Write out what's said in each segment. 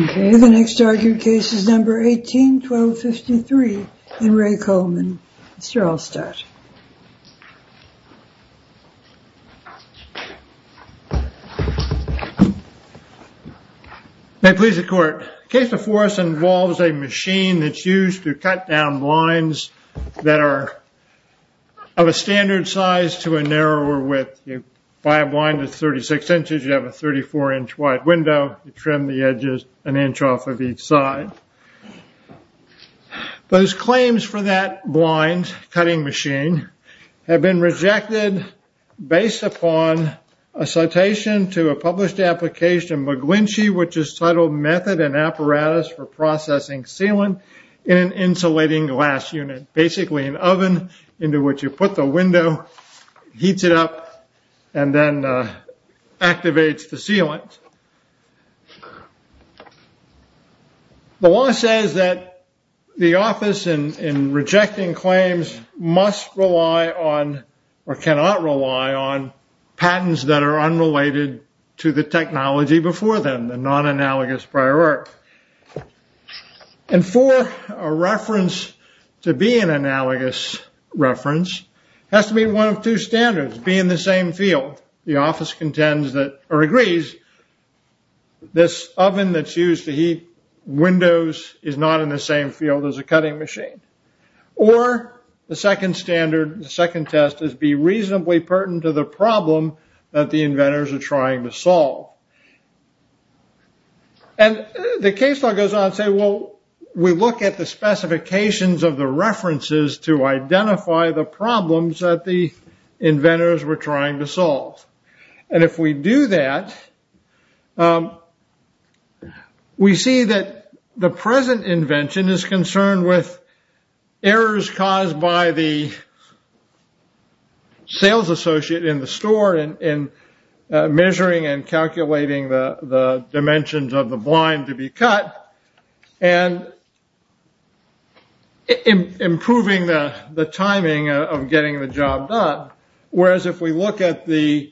Okay, the next argued case is number 18-1253 and Ray Kollman, Mr. Allstadt. May it please the court, the case before us involves a machine that's used to cut down blinds that are of a standard size to a narrower width. You buy a blind that's 36 inches, you have a 34 inch wide window, you trim the edges an inch off of each side. Those claims for that blind cutting machine have been rejected based upon a citation to a published application, McGlinchey, which is titled Method and Apparatus for Processing Sealant in an Insulating Glass Unit. Basically an oven into which you put the window, heats it up, and then activates the sealant. The law says that the office in rejecting claims must rely on or cannot rely on patents that are unrelated to the technology before them, the non-analogous prior work. And for a reference to be an analogous reference, it has to be one of two standards, be in the same field, the office contends that, or agrees, this oven that's used to heat windows is not in the same field as a cutting machine. Or the second standard, the second test is be reasonably pertinent to the problem that the inventors are trying to solve. And the case law goes on to say, well, we look at the specifications of the references to identify the problems that the inventors were trying to solve. And if we do that, we see that the present invention is concerned with errors caused by the sales associate in the store in measuring and calculating the dimensions of the blind to be cut, and improving the timing of getting the job done. Whereas if we look at the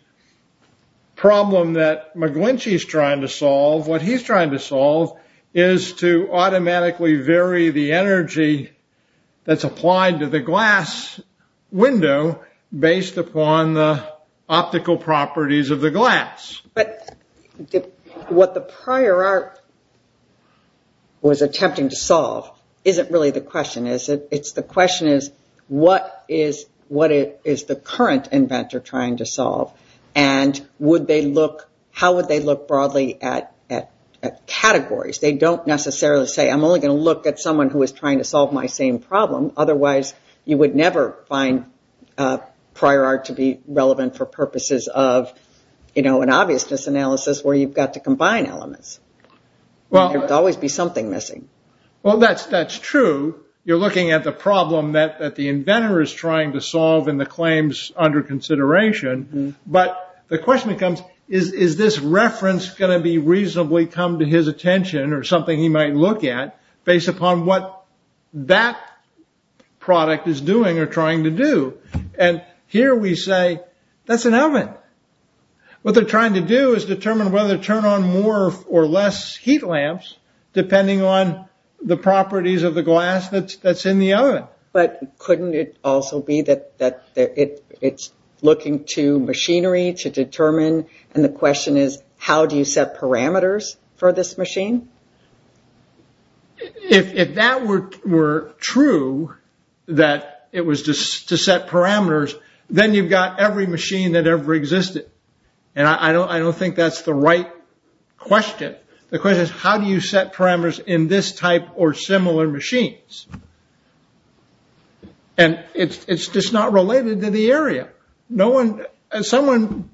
problem that McGlinchey's trying to solve, what he's trying to solve is to automatically vary the energy that's applied to the glass window based upon the optical properties of the glass. But what the prior art was attempting to solve isn't really the question, it's the question is what is the current inventor trying to solve? And how would they look broadly at categories? They don't necessarily say, I'm only going to look at someone who is trying to solve my same problem, otherwise you would never find prior art to be relevant for purposes of an obviousness analysis where you've got to combine elements. There would always be something missing. Well that's true, you're looking at the problem that the inventor is trying to solve and the claims under consideration, but the question becomes, is this reference going to reasonably come to his attention or something he might look at based upon what that product is doing or trying to do? And here we say, that's an oven. What they're trying to do is determine whether to turn on more or less heat lamps depending on the properties of the glass that's in the oven. But couldn't it also be that it's looking to machinery to determine, and the question is how do you set parameters for this machine? If that were true, that it was to set parameters, then you've got every machine that ever existed. And I don't think that's the right question. The question is how do you set parameters in this type or similar machines? And it's just not related to the area. As someone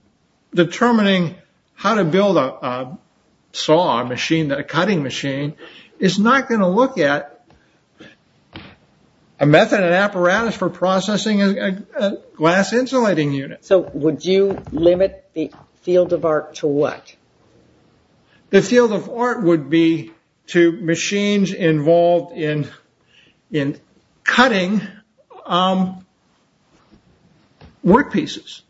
determining how to build a saw machine, a cutting machine, is not going to look at a method and apparatus for processing a glass insulating unit. So would you limit the field of art to what? The field of art would be to machines involved in cutting work pieces.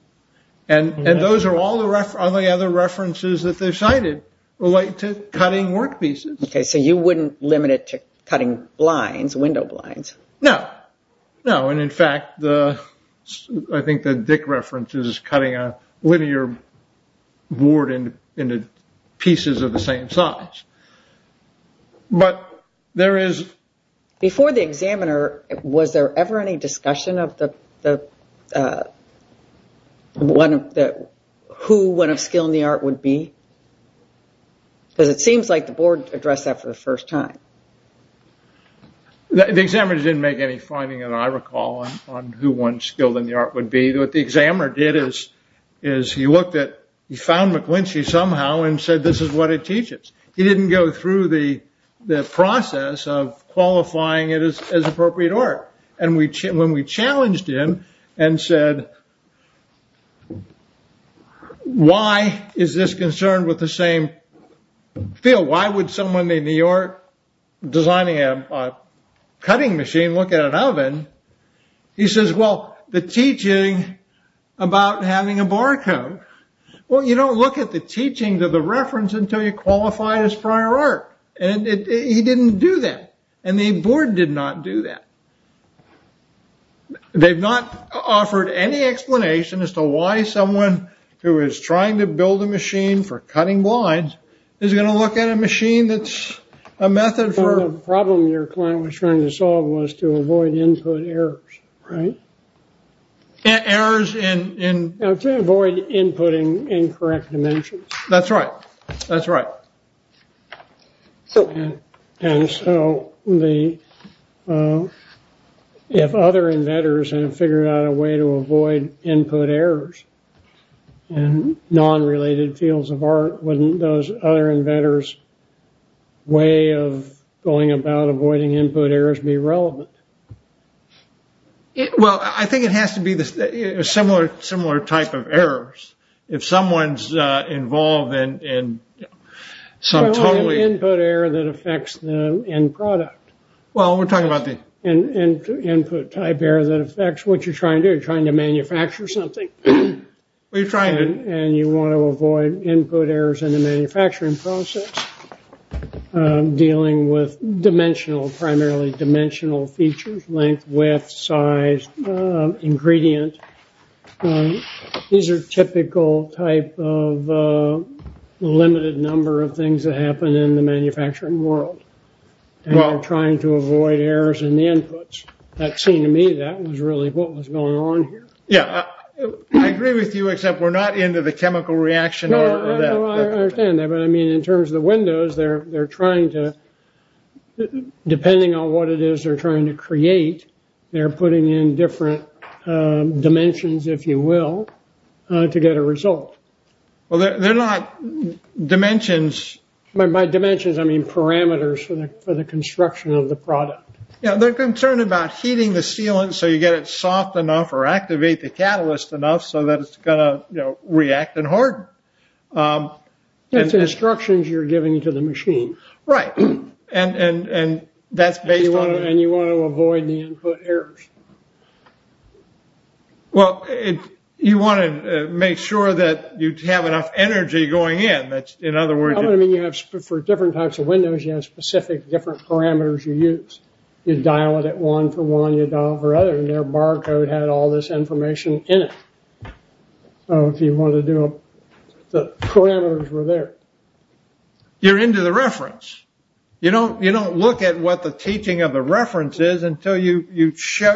And those are all the other references that they've cited relate to cutting work pieces. Okay, so you wouldn't limit it to cutting blinds, window blinds? No. No, and in fact, I think the Dick reference is cutting a linear board into pieces of the same size. But there is... Before the examiner, was there ever any discussion of who one of skill in the art would be? Because it seems like the board addressed that for the first time. The examiner didn't make any finding, and I recall, on who one skill in the art would be. What the examiner did is he looked at, he found McGlinchey somehow and said, this is what it teaches. He didn't go through the process of qualifying it as appropriate art. And when we challenged him and said, why is this concerned with the same field? Why would someone in the art designing a cutting machine look at an oven? He says, well, the teaching about having a barcode, well, you don't look at the teaching to the reference until you qualify it as prior art, and he didn't do that, and the board did not do that. They've not offered any explanation as to why someone who is trying to build a machine for cutting blinds is going to look at a machine that's a method for... The problem your client was trying to solve was to avoid input errors, right? Errors in... To avoid inputting incorrect dimensions. That's right. That's right. And so, if other inventors have figured out a way to avoid input errors in non-related fields of art, wouldn't those other inventors' way of going about avoiding input errors be relevant? Well, I think it has to be a similar type of errors. If someone's involved in some totally... What about input error that affects the end product? Well, we're talking about the... Input type error that affects what you're trying to do, you're trying to manufacture something. Well, you're trying to... And you want to avoid input errors in the manufacturing process, dealing with dimensional, primarily dimensional features, length, width, size, ingredient. These are typical type of limited number of things that happen in the manufacturing world. And you're trying to avoid errors in the inputs. That seemed to me that was really what was going on here. Yeah. I agree with you, except we're not into the chemical reaction or that. No, I understand that. But, I mean, in terms of the windows, they're trying to, depending on what it is they're trying to create, they're putting in different dimensions, if you will, to get a result. Well, they're not dimensions... By dimensions, I mean parameters for the construction of the product. Yeah. They're concerned about heating the sealant so you get it soft enough or activate the catalyst enough so that it's going to react and harden. That's the instructions you're giving to the machine. Right. And that's based on... And you want to avoid the input errors. Well, you want to make sure that you have enough energy going in, that's... In other words... I mean, you have... You dial it at one for one, you dial it for the other, and their barcode had all this information in it. So, if you wanted to do a... The parameters were there. You're into the reference. You don't look at what the teaching of the reference is until you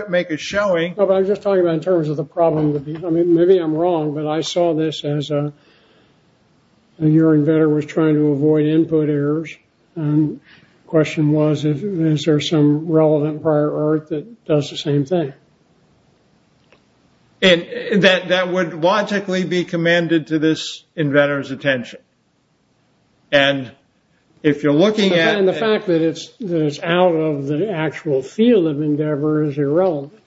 make a showing. No, but I'm just talking about in terms of the problem with the... I mean, maybe I'm wrong, but I saw this as a urine vetter was trying to avoid input errors. And the question was, is there some relevant prior art that does the same thing? And that would logically be commanded to this inventor's attention. And if you're looking at... And the fact that it's out of the actual field of endeavor is irrelevant.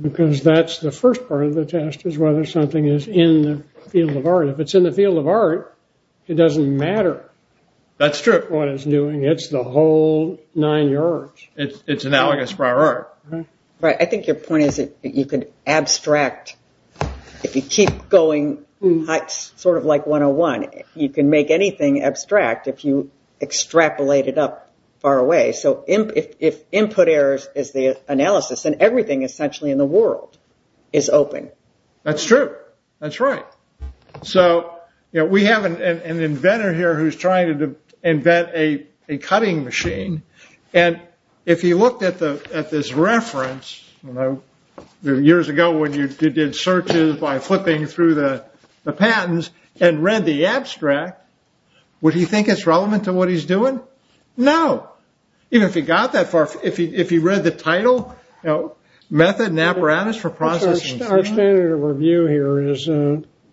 Because that's the first part of the test, is whether something is in the field of art. If it's in the field of art, it doesn't matter what it's doing. It's the whole nine yards. It's analogous prior art. Right. I think your point is that you could abstract... If you keep going sort of like 101, you can make anything abstract if you extrapolate it up far away. So if input errors is the analysis, then everything essentially in the world is open. That's true. That's right. So, you know, we have an inventor here who's trying to invent a cutting machine. And if you looked at this reference, you know, years ago, when you did searches by flipping through the patents and read the abstract, would he think it's relevant to what he's doing? No. Even if he got that far, if he read the title, you know, Method and Apparatus for Processing... Our standard of review here is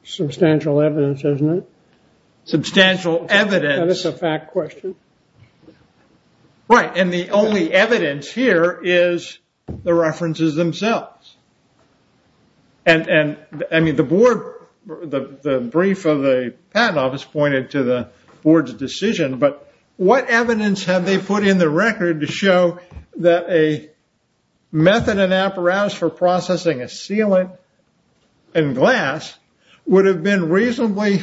substantial evidence, isn't it? Substantial evidence. That is a fact question. Right. And the only evidence here is the references themselves. And I mean, the board, the brief of the patent office pointed to the board's decision. But what evidence have they put in the record to show that a Method and Apparatus for Processing a sealant and glass would have been reasonably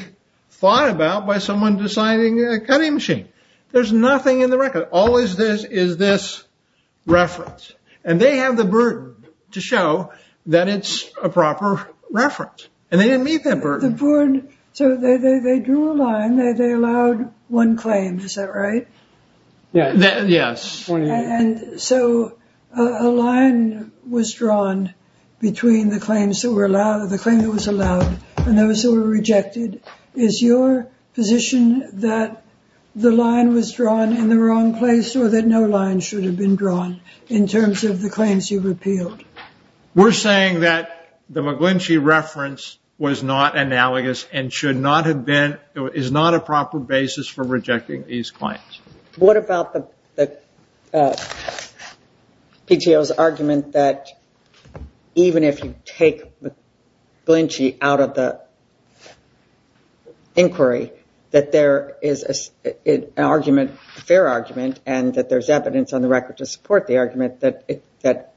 thought about by someone designing a cutting machine? There's nothing in the record. All is this is this reference. And they have the burden to show that it's a proper reference. And they didn't meet that burden. So they drew a line that they allowed one claim, is that right? Yes. And so a line was drawn between the claims that were allowed, the claim that was allowed, and those that were rejected. Is your position that the line was drawn in the wrong place or that no line should have been drawn in terms of the claims you've repealed? We're saying that the McGlinchey reference was not analogous and should not have been, is not a proper basis for rejecting these claims. What about the PTO's argument that even if you take McGlinchey out of the inquiry, that there is an argument, a fair argument, and that there's evidence on the record to support the argument that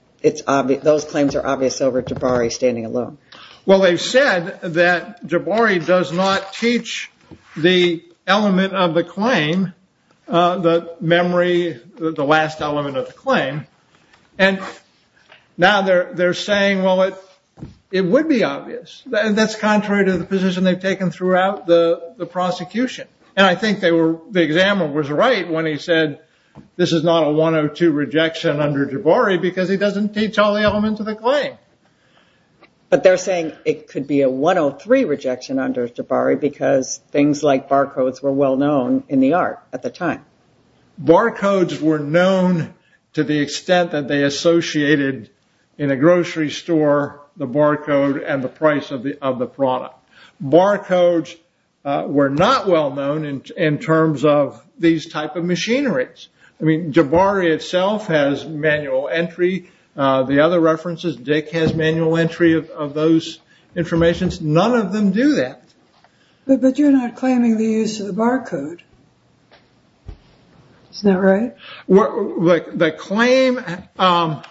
those claims are obvious over Jabari standing alone? Well, they've said that Jabari does not teach the element of the claim, the memory, the last element of the claim. And now they're saying, well, it would be obvious. That's contrary to the position they've taken throughout the prosecution. And I think the examiner was right when he said this is not a 102 rejection under Jabari But they're saying it could be a 103 rejection under Jabari because things like barcodes were well known in the art at the time. Barcodes were known to the extent that they associated in a grocery store the barcode and the price of the product. Barcodes were not well known in terms of these type of machineries. I mean, Jabari itself has manual entry. The other references, Dick has manual entry of those informations. None of them do that. But you're not claiming the use of the barcode, is that right? The claim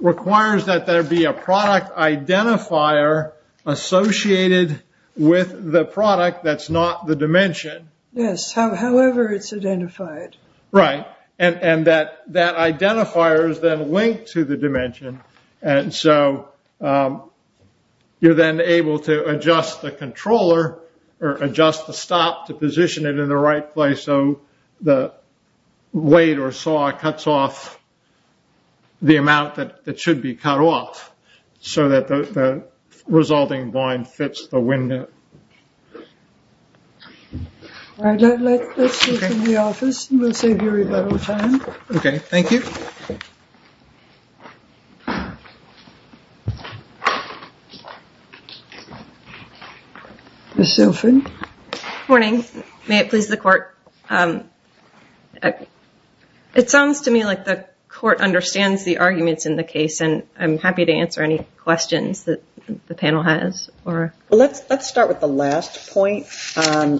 requires that there be a product identifier associated with the product that's not the dimension. Yes, however it's identified. Right. And that that identifier is then linked to the dimension. And so you're then able to adjust the controller or adjust the stop to position it in the right place. So the weight or saw cuts off the amount that should be cut off. So that the resulting line fits the window. All right, let's move to the office and we'll save you a little time. Okay, thank you. Ms. Shelford. Good morning. May it please the court. It sounds to me like the court understands the arguments in the case and I'm happy to answer any questions that the panel has. Let's start with the last point. I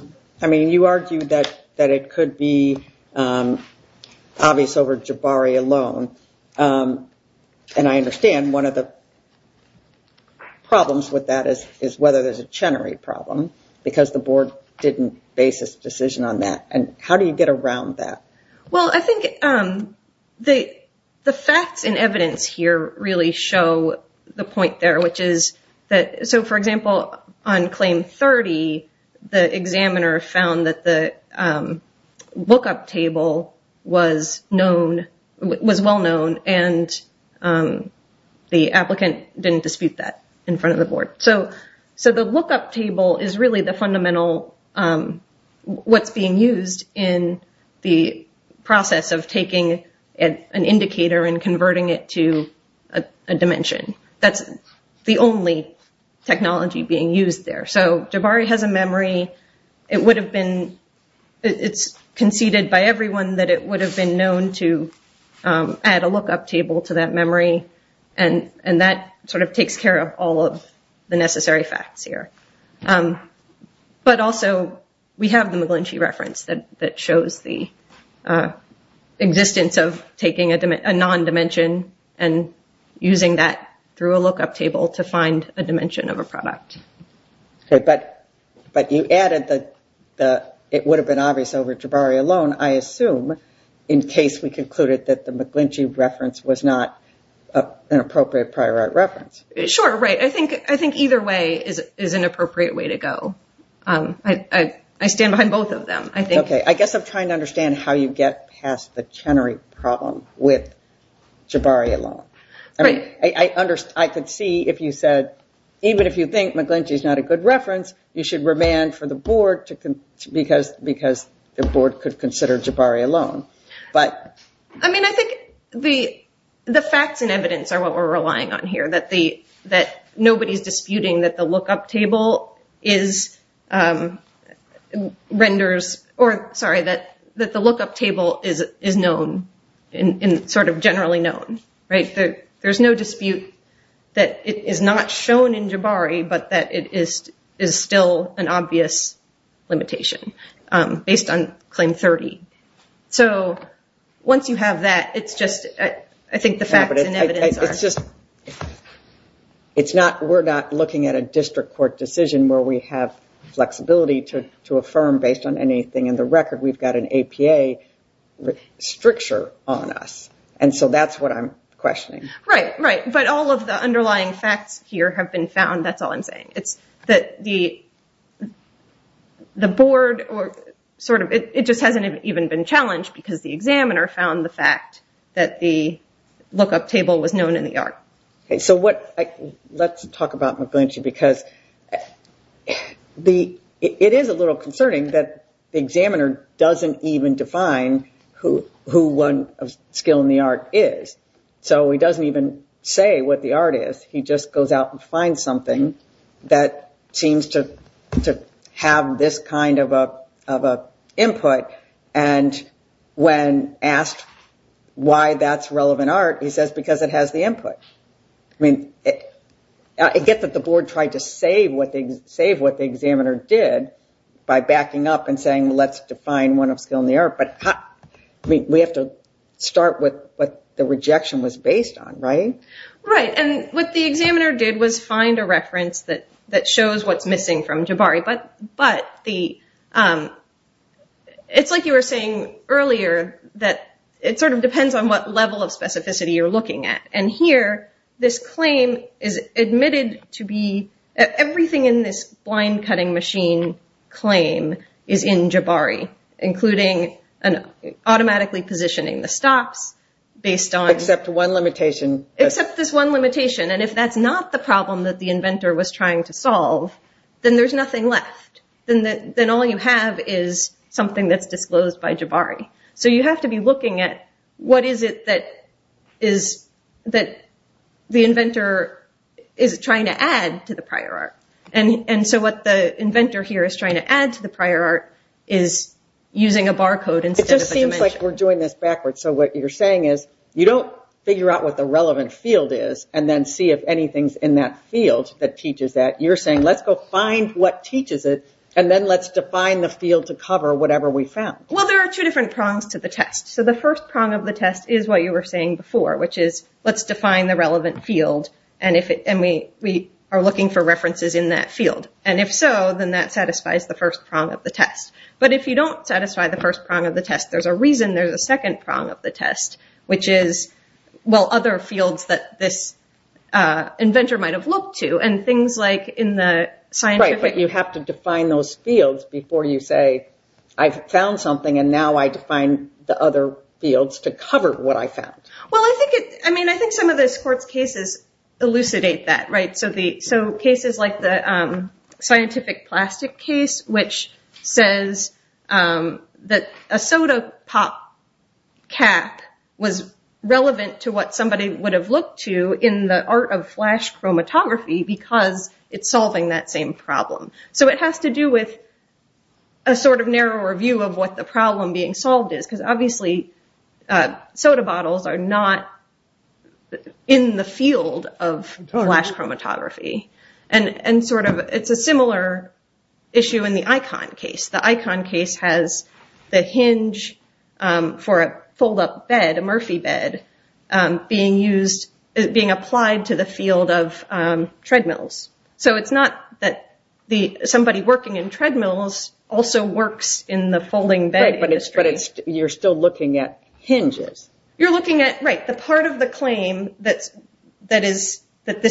mean, you argued that it could be obvious over Jabari alone. And I understand one of the problems with that is whether there's a Chenery problem because the board didn't base its decision on that. And how do you get around that? Well, I think the facts and evidence here really show the point there, which is that so for example, on claim 30, the examiner found that the lookup table was well known and the applicant didn't dispute that in front of the board. So the lookup table is really the fundamental, what's being used in the process of taking an indicator and converting it to a dimension. That's the only technology being used there. So Jabari has a memory. It would have been, it's conceded by everyone that it would have been known to add a lookup table to that memory and that sort of takes care of all of the necessary facts here. But also, we have the McGlinchey reference that shows the existence of taking a non-dimension and using that through a lookup table to find a dimension of a product. But you added the, it would have been obvious over Jabari alone, I assume, in case we concluded that the McGlinchey reference was not an appropriate prior art reference. Sure, right. I think either way is an appropriate way to go. I stand behind both of them. I guess I'm trying to understand how you get past the Chenery problem with Jabari alone. I could see if you said, even if you think McGlinchey is not a good reference, you should remand for the board because the board could consider Jabari alone. I mean, I think the facts and evidence are what we're relying on here, that nobody's or sorry, that the lookup table is known and sort of generally known. There's no dispute that it is not shown in Jabari, but that it is still an obvious limitation based on Claim 30. So once you have that, it's just, I think the facts and evidence are... It's not, we're not looking at a district court decision where we have flexibility to the record, we've got an APA stricture on us. And so that's what I'm questioning. Right, right. But all of the underlying facts here have been found, that's all I'm saying. It's that the board or sort of, it just hasn't even been challenged because the examiner found the fact that the lookup table was known in the art. So let's talk about McGlinchey because it is a little concerning that the examiner doesn't even define who one skill in the art is. So he doesn't even say what the art is. He just goes out and finds something that seems to have this kind of an input. And when asked why that's relevant art, he says, because it has the input. I mean, I get that the board tried to save what the examiner did by backing up and saying, let's define one of skill in the art, but we have to start with what the rejection was based on, right? Right. And what the examiner did was find a reference that shows what's missing from Jabari. But it's like you were saying earlier that it sort of depends on what level of specificity you're looking at. And here, this claim is admitted to be, everything in this blind cutting machine claim is in Jabari, including automatically positioning the stops based on... Except one limitation. Except this one limitation. And if that's not the problem that the inventor was trying to solve, then there's nothing left. Then all you have is something that's disclosed by Jabari. So you have to be looking at what is it that the inventor is trying to add to the prior art. And so what the inventor here is trying to add to the prior art is using a barcode instead of a dimension. It just seems like we're doing this backwards. So what you're saying is, you don't figure out what the relevant field is and then see if anything's in that field that teaches that. You're saying, let's go find what teaches it and then let's define the field to cover whatever we found. Well, there are two different prongs to the test. So the first prong of the test is what you were saying before, which is, let's define the relevant field and we are looking for references in that field. And if so, then that satisfies the first prong of the test. But if you don't satisfy the first prong of the test, there's a reason there's a second prong of the test, which is, well, other fields that this inventor might have looked to. Right, but you have to define those fields before you say, I found something and now I define the other fields to cover what I found. Well, I think some of the sports cases elucidate that. So cases like the scientific plastic case, which says that a soda pop cap was relevant to what somebody would have looked to in the art of flash chromatography because it's solving that same problem. So it has to do with a sort of narrower view of what the problem being solved is because obviously soda bottles are not in the field of flash chromatography. And sort of, it's a similar issue in the icon case. The icon case has the hinge for a fold-up bed, a Murphy bed, being applied to the field of treadmills. So it's not that somebody working in treadmills also works in the folding bed industry. Right, but you're still looking at hinges. You're looking at, right, the part of the claim that this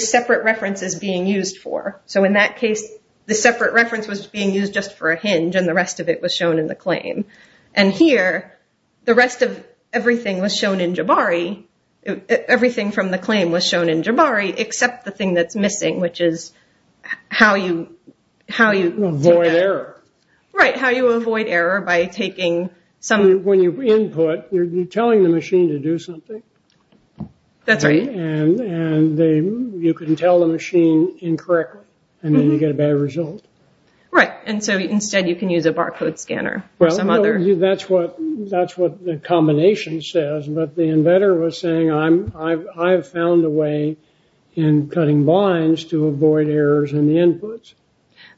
separate reference is being used for. So in that case, the separate reference was being used just for a hinge and the rest of it was shown in the claim. And here, the rest of everything was shown in Jabari. Everything from the claim was shown in Jabari except the thing that's missing, which is how you... How you... Avoid error. Right, how you avoid error by taking some... When you input, you're telling the machine to do something. That's right. And you can tell the machine incorrectly and then you get a bad result. Right, and so instead you can use a barcode scanner or some other... That's what the combination says, but the inventor was saying, I've found a way in cutting lines to avoid errors in the inputs.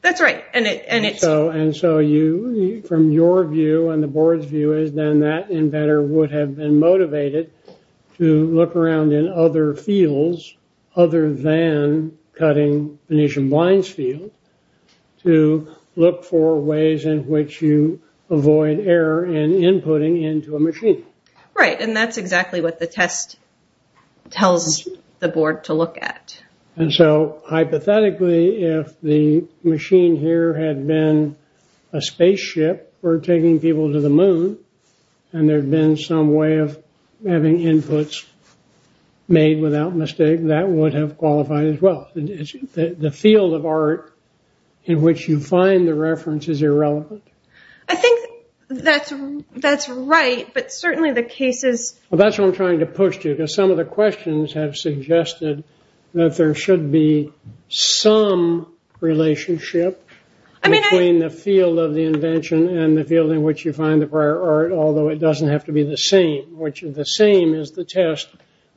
That's right. And it's... And so you, from your view and the board's view, is then that inventor would have been cutting other fields other than cutting Venetian blinds field to look for ways in which you avoid error in inputting into a machine. Right, and that's exactly what the test tells the board to look at. And so hypothetically, if the machine here had been a spaceship or taking people to the without mistake, that would have qualified as well. The field of art in which you find the reference is irrelevant. I think that's right, but certainly the cases... Well, that's what I'm trying to push to you, because some of the questions have suggested that there should be some relationship between the field of the invention and the field in which you find the prior art, although it doesn't have to be the same, which the same is the test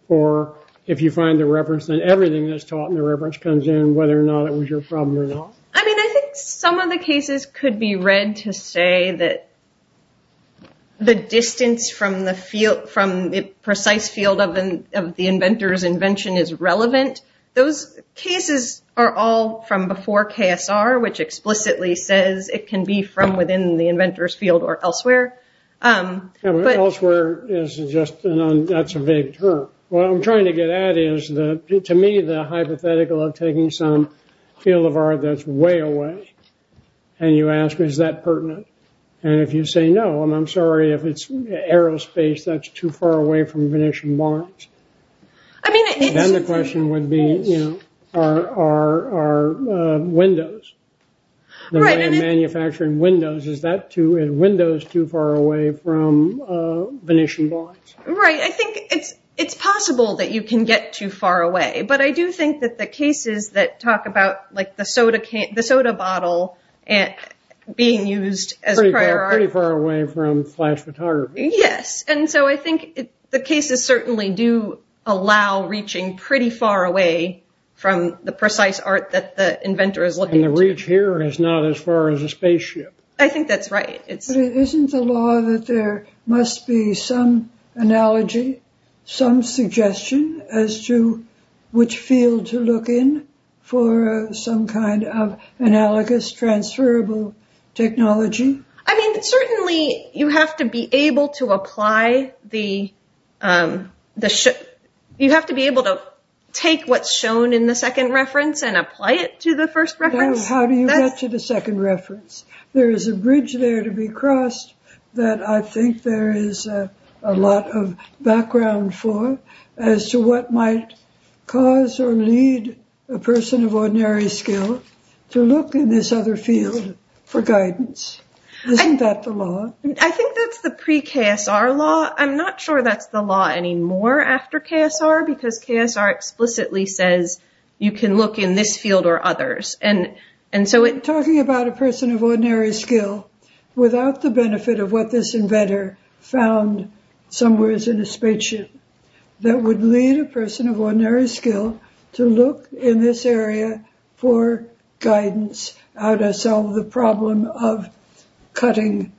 for if you find the reference, then everything that's taught in the reference comes in, whether or not it was your problem or not. I mean, I think some of the cases could be read to say that the distance from the field... From the precise field of the inventor's invention is relevant. Those cases are all from before KSR, which explicitly says it can be from within the inventor's field or elsewhere. Elsewhere is just... That's a vague term. What I'm trying to get at is that, to me, the hypothetical of taking some field of art that's way away, and you ask, is that pertinent? And if you say no, and I'm sorry if it's aerospace that's too far away from Venetian bombs, then the question would be, you know, are windows, the manufacturing windows, is that too... Is that too far away from Venetian bombs? Right. I think it's possible that you can get too far away, but I do think that the cases that talk about the soda bottle being used as prior art... Pretty far away from flash photography. Yes. And so I think the cases certainly do allow reaching pretty far away from the precise art that the inventor is looking to. And the reach here is not as far as a spaceship. I think that's right. But isn't the law that there must be some analogy, some suggestion as to which field to look in for some kind of analogous transferable technology? I mean, certainly you have to be able to apply the... You have to be able to take what's shown in the second reference and apply it to the first reference. How do you get to the second reference? There is a bridge there to be crossed that I think there is a lot of background for as to what might cause or lead a person of ordinary skill to look in this other field for guidance. Isn't that the law? I think that's the pre-KSR law. I'm not sure that's the law anymore after KSR, because KSR explicitly says you can look in this field or others. You're talking about a person of ordinary skill without the benefit of what this inventor found somewheres in a spaceship that would lead a person of ordinary skill to look in this area for guidance, how to solve the problem of cutting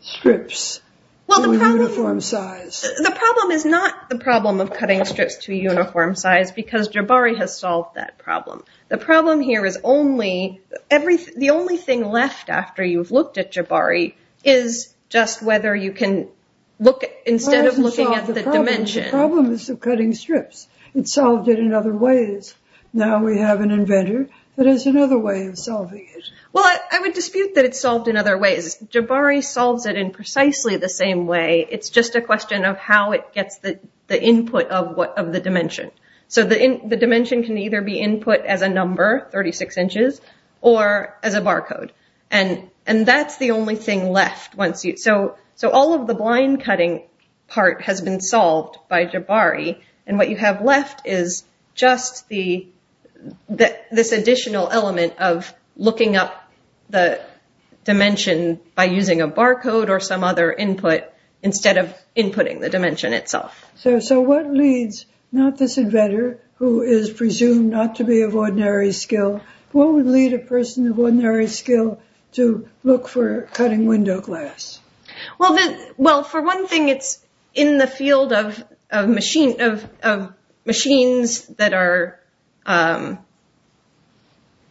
strips to a uniform size. The problem is not the problem of cutting strips to a uniform size, because Jabari has solved that problem. The problem here is only... The only thing left after you've looked at Jabari is just whether you can look at... Instead of looking at the dimension... Well, it hasn't solved the problem. The problem is the cutting strips. It's solved it in other ways. Now we have an inventor that has another way of solving it. Well, I would dispute that it's solved in other ways. Jabari solves it in precisely the same way. It's just a question of how it gets the input of the dimension. So the dimension can either be input as a number, 36 inches, or as a barcode. And that's the only thing left once you... So all of the blind cutting part has been solved by Jabari, and what you have left is just this additional element of looking up the dimension by using a barcode or some other input instead of inputting the dimension itself. So what leads, not this inventor who is presumed not to be of ordinary skill, what would lead a person of ordinary skill to look for cutting window glass? Well, for one thing, it's in the field of machines that are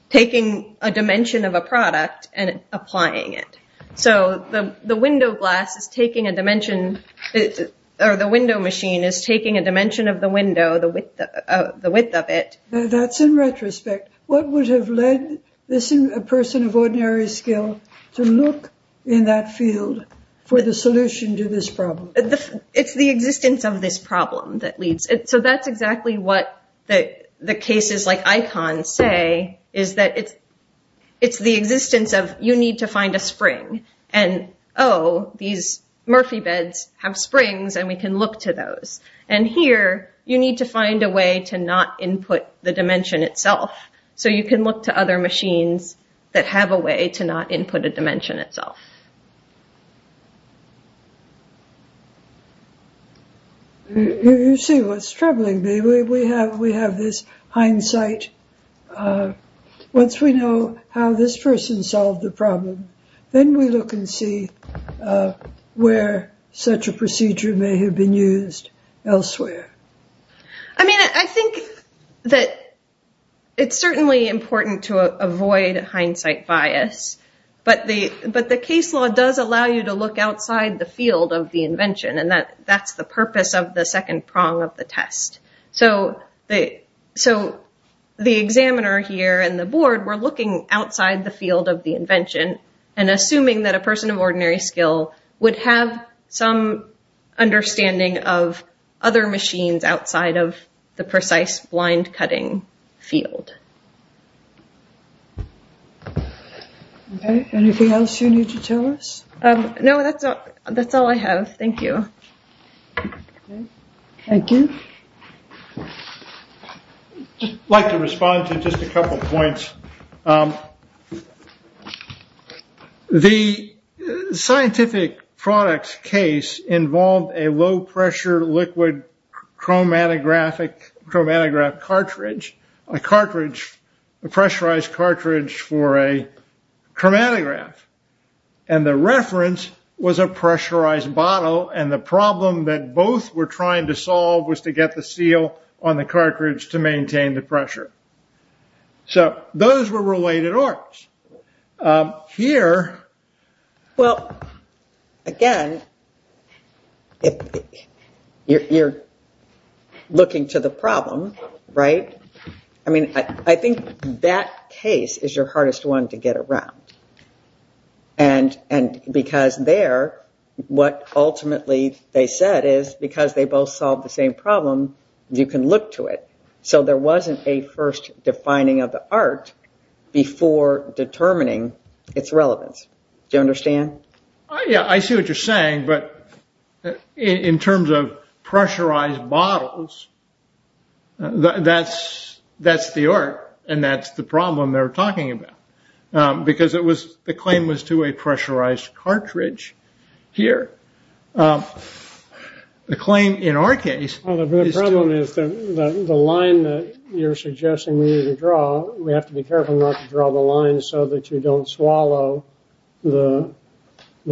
taking a dimension of a product and applying it. So the window glass is taking a dimension, or the window machine is taking a dimension of the window, the width of it. That's in retrospect. What would have led a person of ordinary skill to look in that field for the solution to this problem? It's the existence of this problem that leads. So that's exactly what the cases like ICON say, is that it's the existence of, you need to find a spring, and oh, these Murphy beds have springs, and we can look to those. And here, you need to find a way to not input the dimension itself. So you can look to other machines that have a way to not input a dimension itself. You see what's troubling me. We have this hindsight. Once we know how this person solved the problem, then we look and see where such a procedure may have been used elsewhere. I mean, I think that it's certainly important to avoid hindsight bias, but the case law does allow you to look outside the field of the invention, and that's the purpose of the second prong of the test. So the examiner here and the board were looking outside the field of the invention, and assuming that a person of ordinary skill would have some understanding of other machines outside of the precise blind-cutting field. Okay, anything else you need to tell us? No, that's all I have. Thank you. Thank you. I'd like to respond to just a couple of points. The scientific product case involved a low-pressure liquid chromatograph cartridge, a pressurized cartridge for a chromatograph. And the reference was a pressurized bottle, and the problem that both were trying to solve was to get the seal on the cartridge to maintain the pressure. So those were related orcs. Here... Well, again, you're looking to the problem, right? I mean, I think that case is your hardest one to get around, because there, what ultimately they said is, because they both solved the same problem, you can look to it. So there wasn't a first defining of the art before determining its relevance. Do you understand? Yeah, I see what you're saying, but in terms of pressurized bottles, that's the art, and that's the problem they're talking about, because the claim was to a pressurized cartridge here. The claim in our case is to... Well, the problem is the line that you're suggesting we need to draw, we have to be careful not to draw the line so that you don't swallow the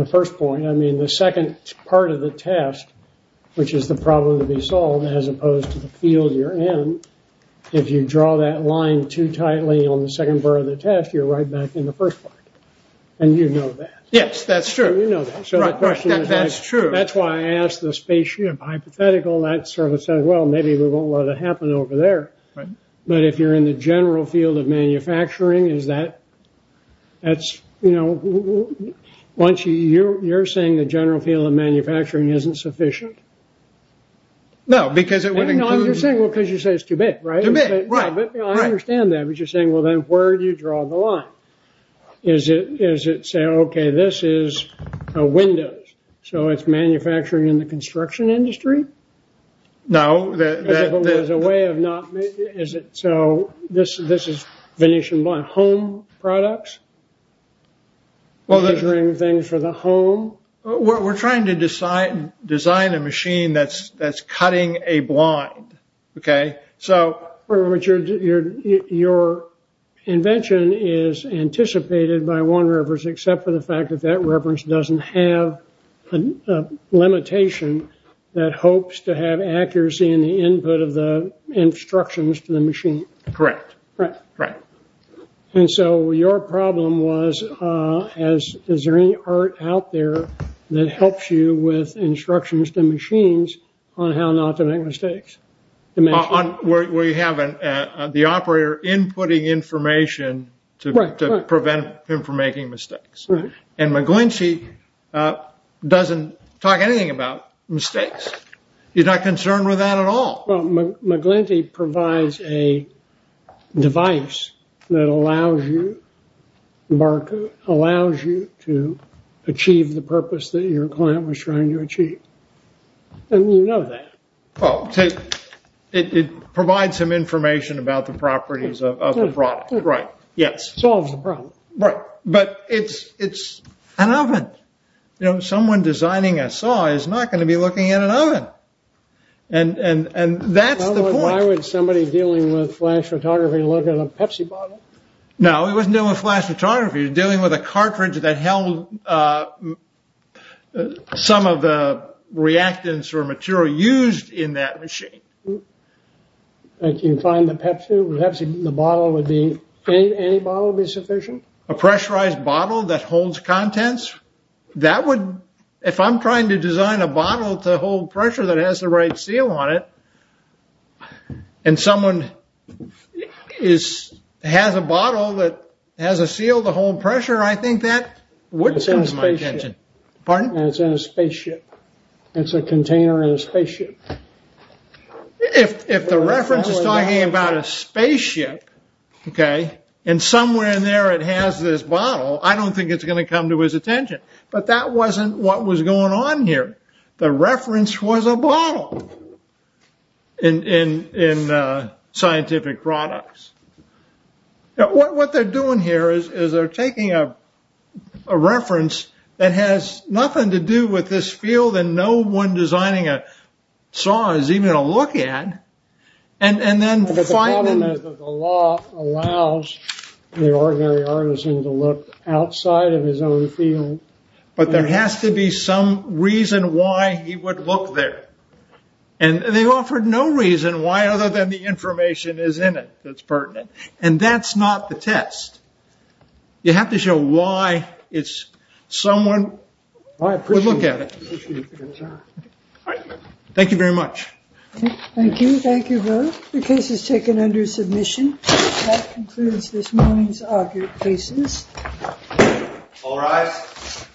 first point. I mean, the second part of the test, which is the problem to be solved, as opposed to the field you're in, if you draw that line too tightly on the second part of the test, you're right back in the first part, and you know that. Yes, that's true. You know that. So the question is... That's true. That's why I asked the spaceship hypothetical, and that sort of says, well, maybe we won't let it happen over there. But if you're in the general field of manufacturing, is that... That's, you know, once you... You're saying the general field of manufacturing isn't sufficient? No, because it would include... No, you're saying, well, because you say it's too big, right? Too big, right. I understand that, but you're saying, well, then where do you draw the line? Is it saying, okay, this is a window, so it's manufacturing in the construction industry? No, that... As a way of not... Is it... So this is Venetian blind. Home products? Well, the... Measuring things for the home? We're trying to design a machine that's cutting a blind, okay? Your invention is anticipated by one reference, except for the fact that that reference doesn't have a limitation that hopes to have accuracy in the input of the instructions to the machine. Correct. Right. Right. And so your problem was, is there any art out there that helps you with instructions to where you have the operator inputting information to prevent him from making mistakes? Right. And McGlinty doesn't talk anything about mistakes. He's not concerned with that at all. Well, McGlinty provides a device that allows you... Mark allows you to achieve the purpose that your client was trying to achieve. And you know that. Well, it provides some information about the properties of the product. Right. Yes. Solves the problem. Right. But it's an oven. You know, someone designing a saw is not going to be looking at an oven. And that's the point. Why would somebody dealing with flash photography look at a Pepsi bottle? No, he wasn't dealing with flash photography. He was dealing with a cartridge that held some of the reactants or material used in that machine. I can find the Pepsi. Perhaps the bottle would be... Any bottle would be sufficient? A pressurized bottle that holds contents? That would... If I'm trying to design a bottle to hold pressure that has the right seal on it, and someone has a bottle that has a seal to hold pressure, I think that would come to my attention. It's in a spaceship. Pardon? It's in a spaceship. It's a container in a spaceship. If the reference is talking about a spaceship, okay, and somewhere in there it has this bottle, I don't think it's going to come to his attention. The reference was a bottle. In scientific products. What they're doing here is they're taking a reference that has nothing to do with this field, and no one designing a saw is even going to look at. And then... But the problem is that the law allows the ordinary artisan to look outside of his own field. But there has to be some reason why he would look there. And they offered no reason why other than the information is in it that's pertinent. And that's not the test. You have to show why someone would look at it. Thank you very much. Thank you. Thank you both. The case is taken under submission. That concludes this morning's argued cases. All rise.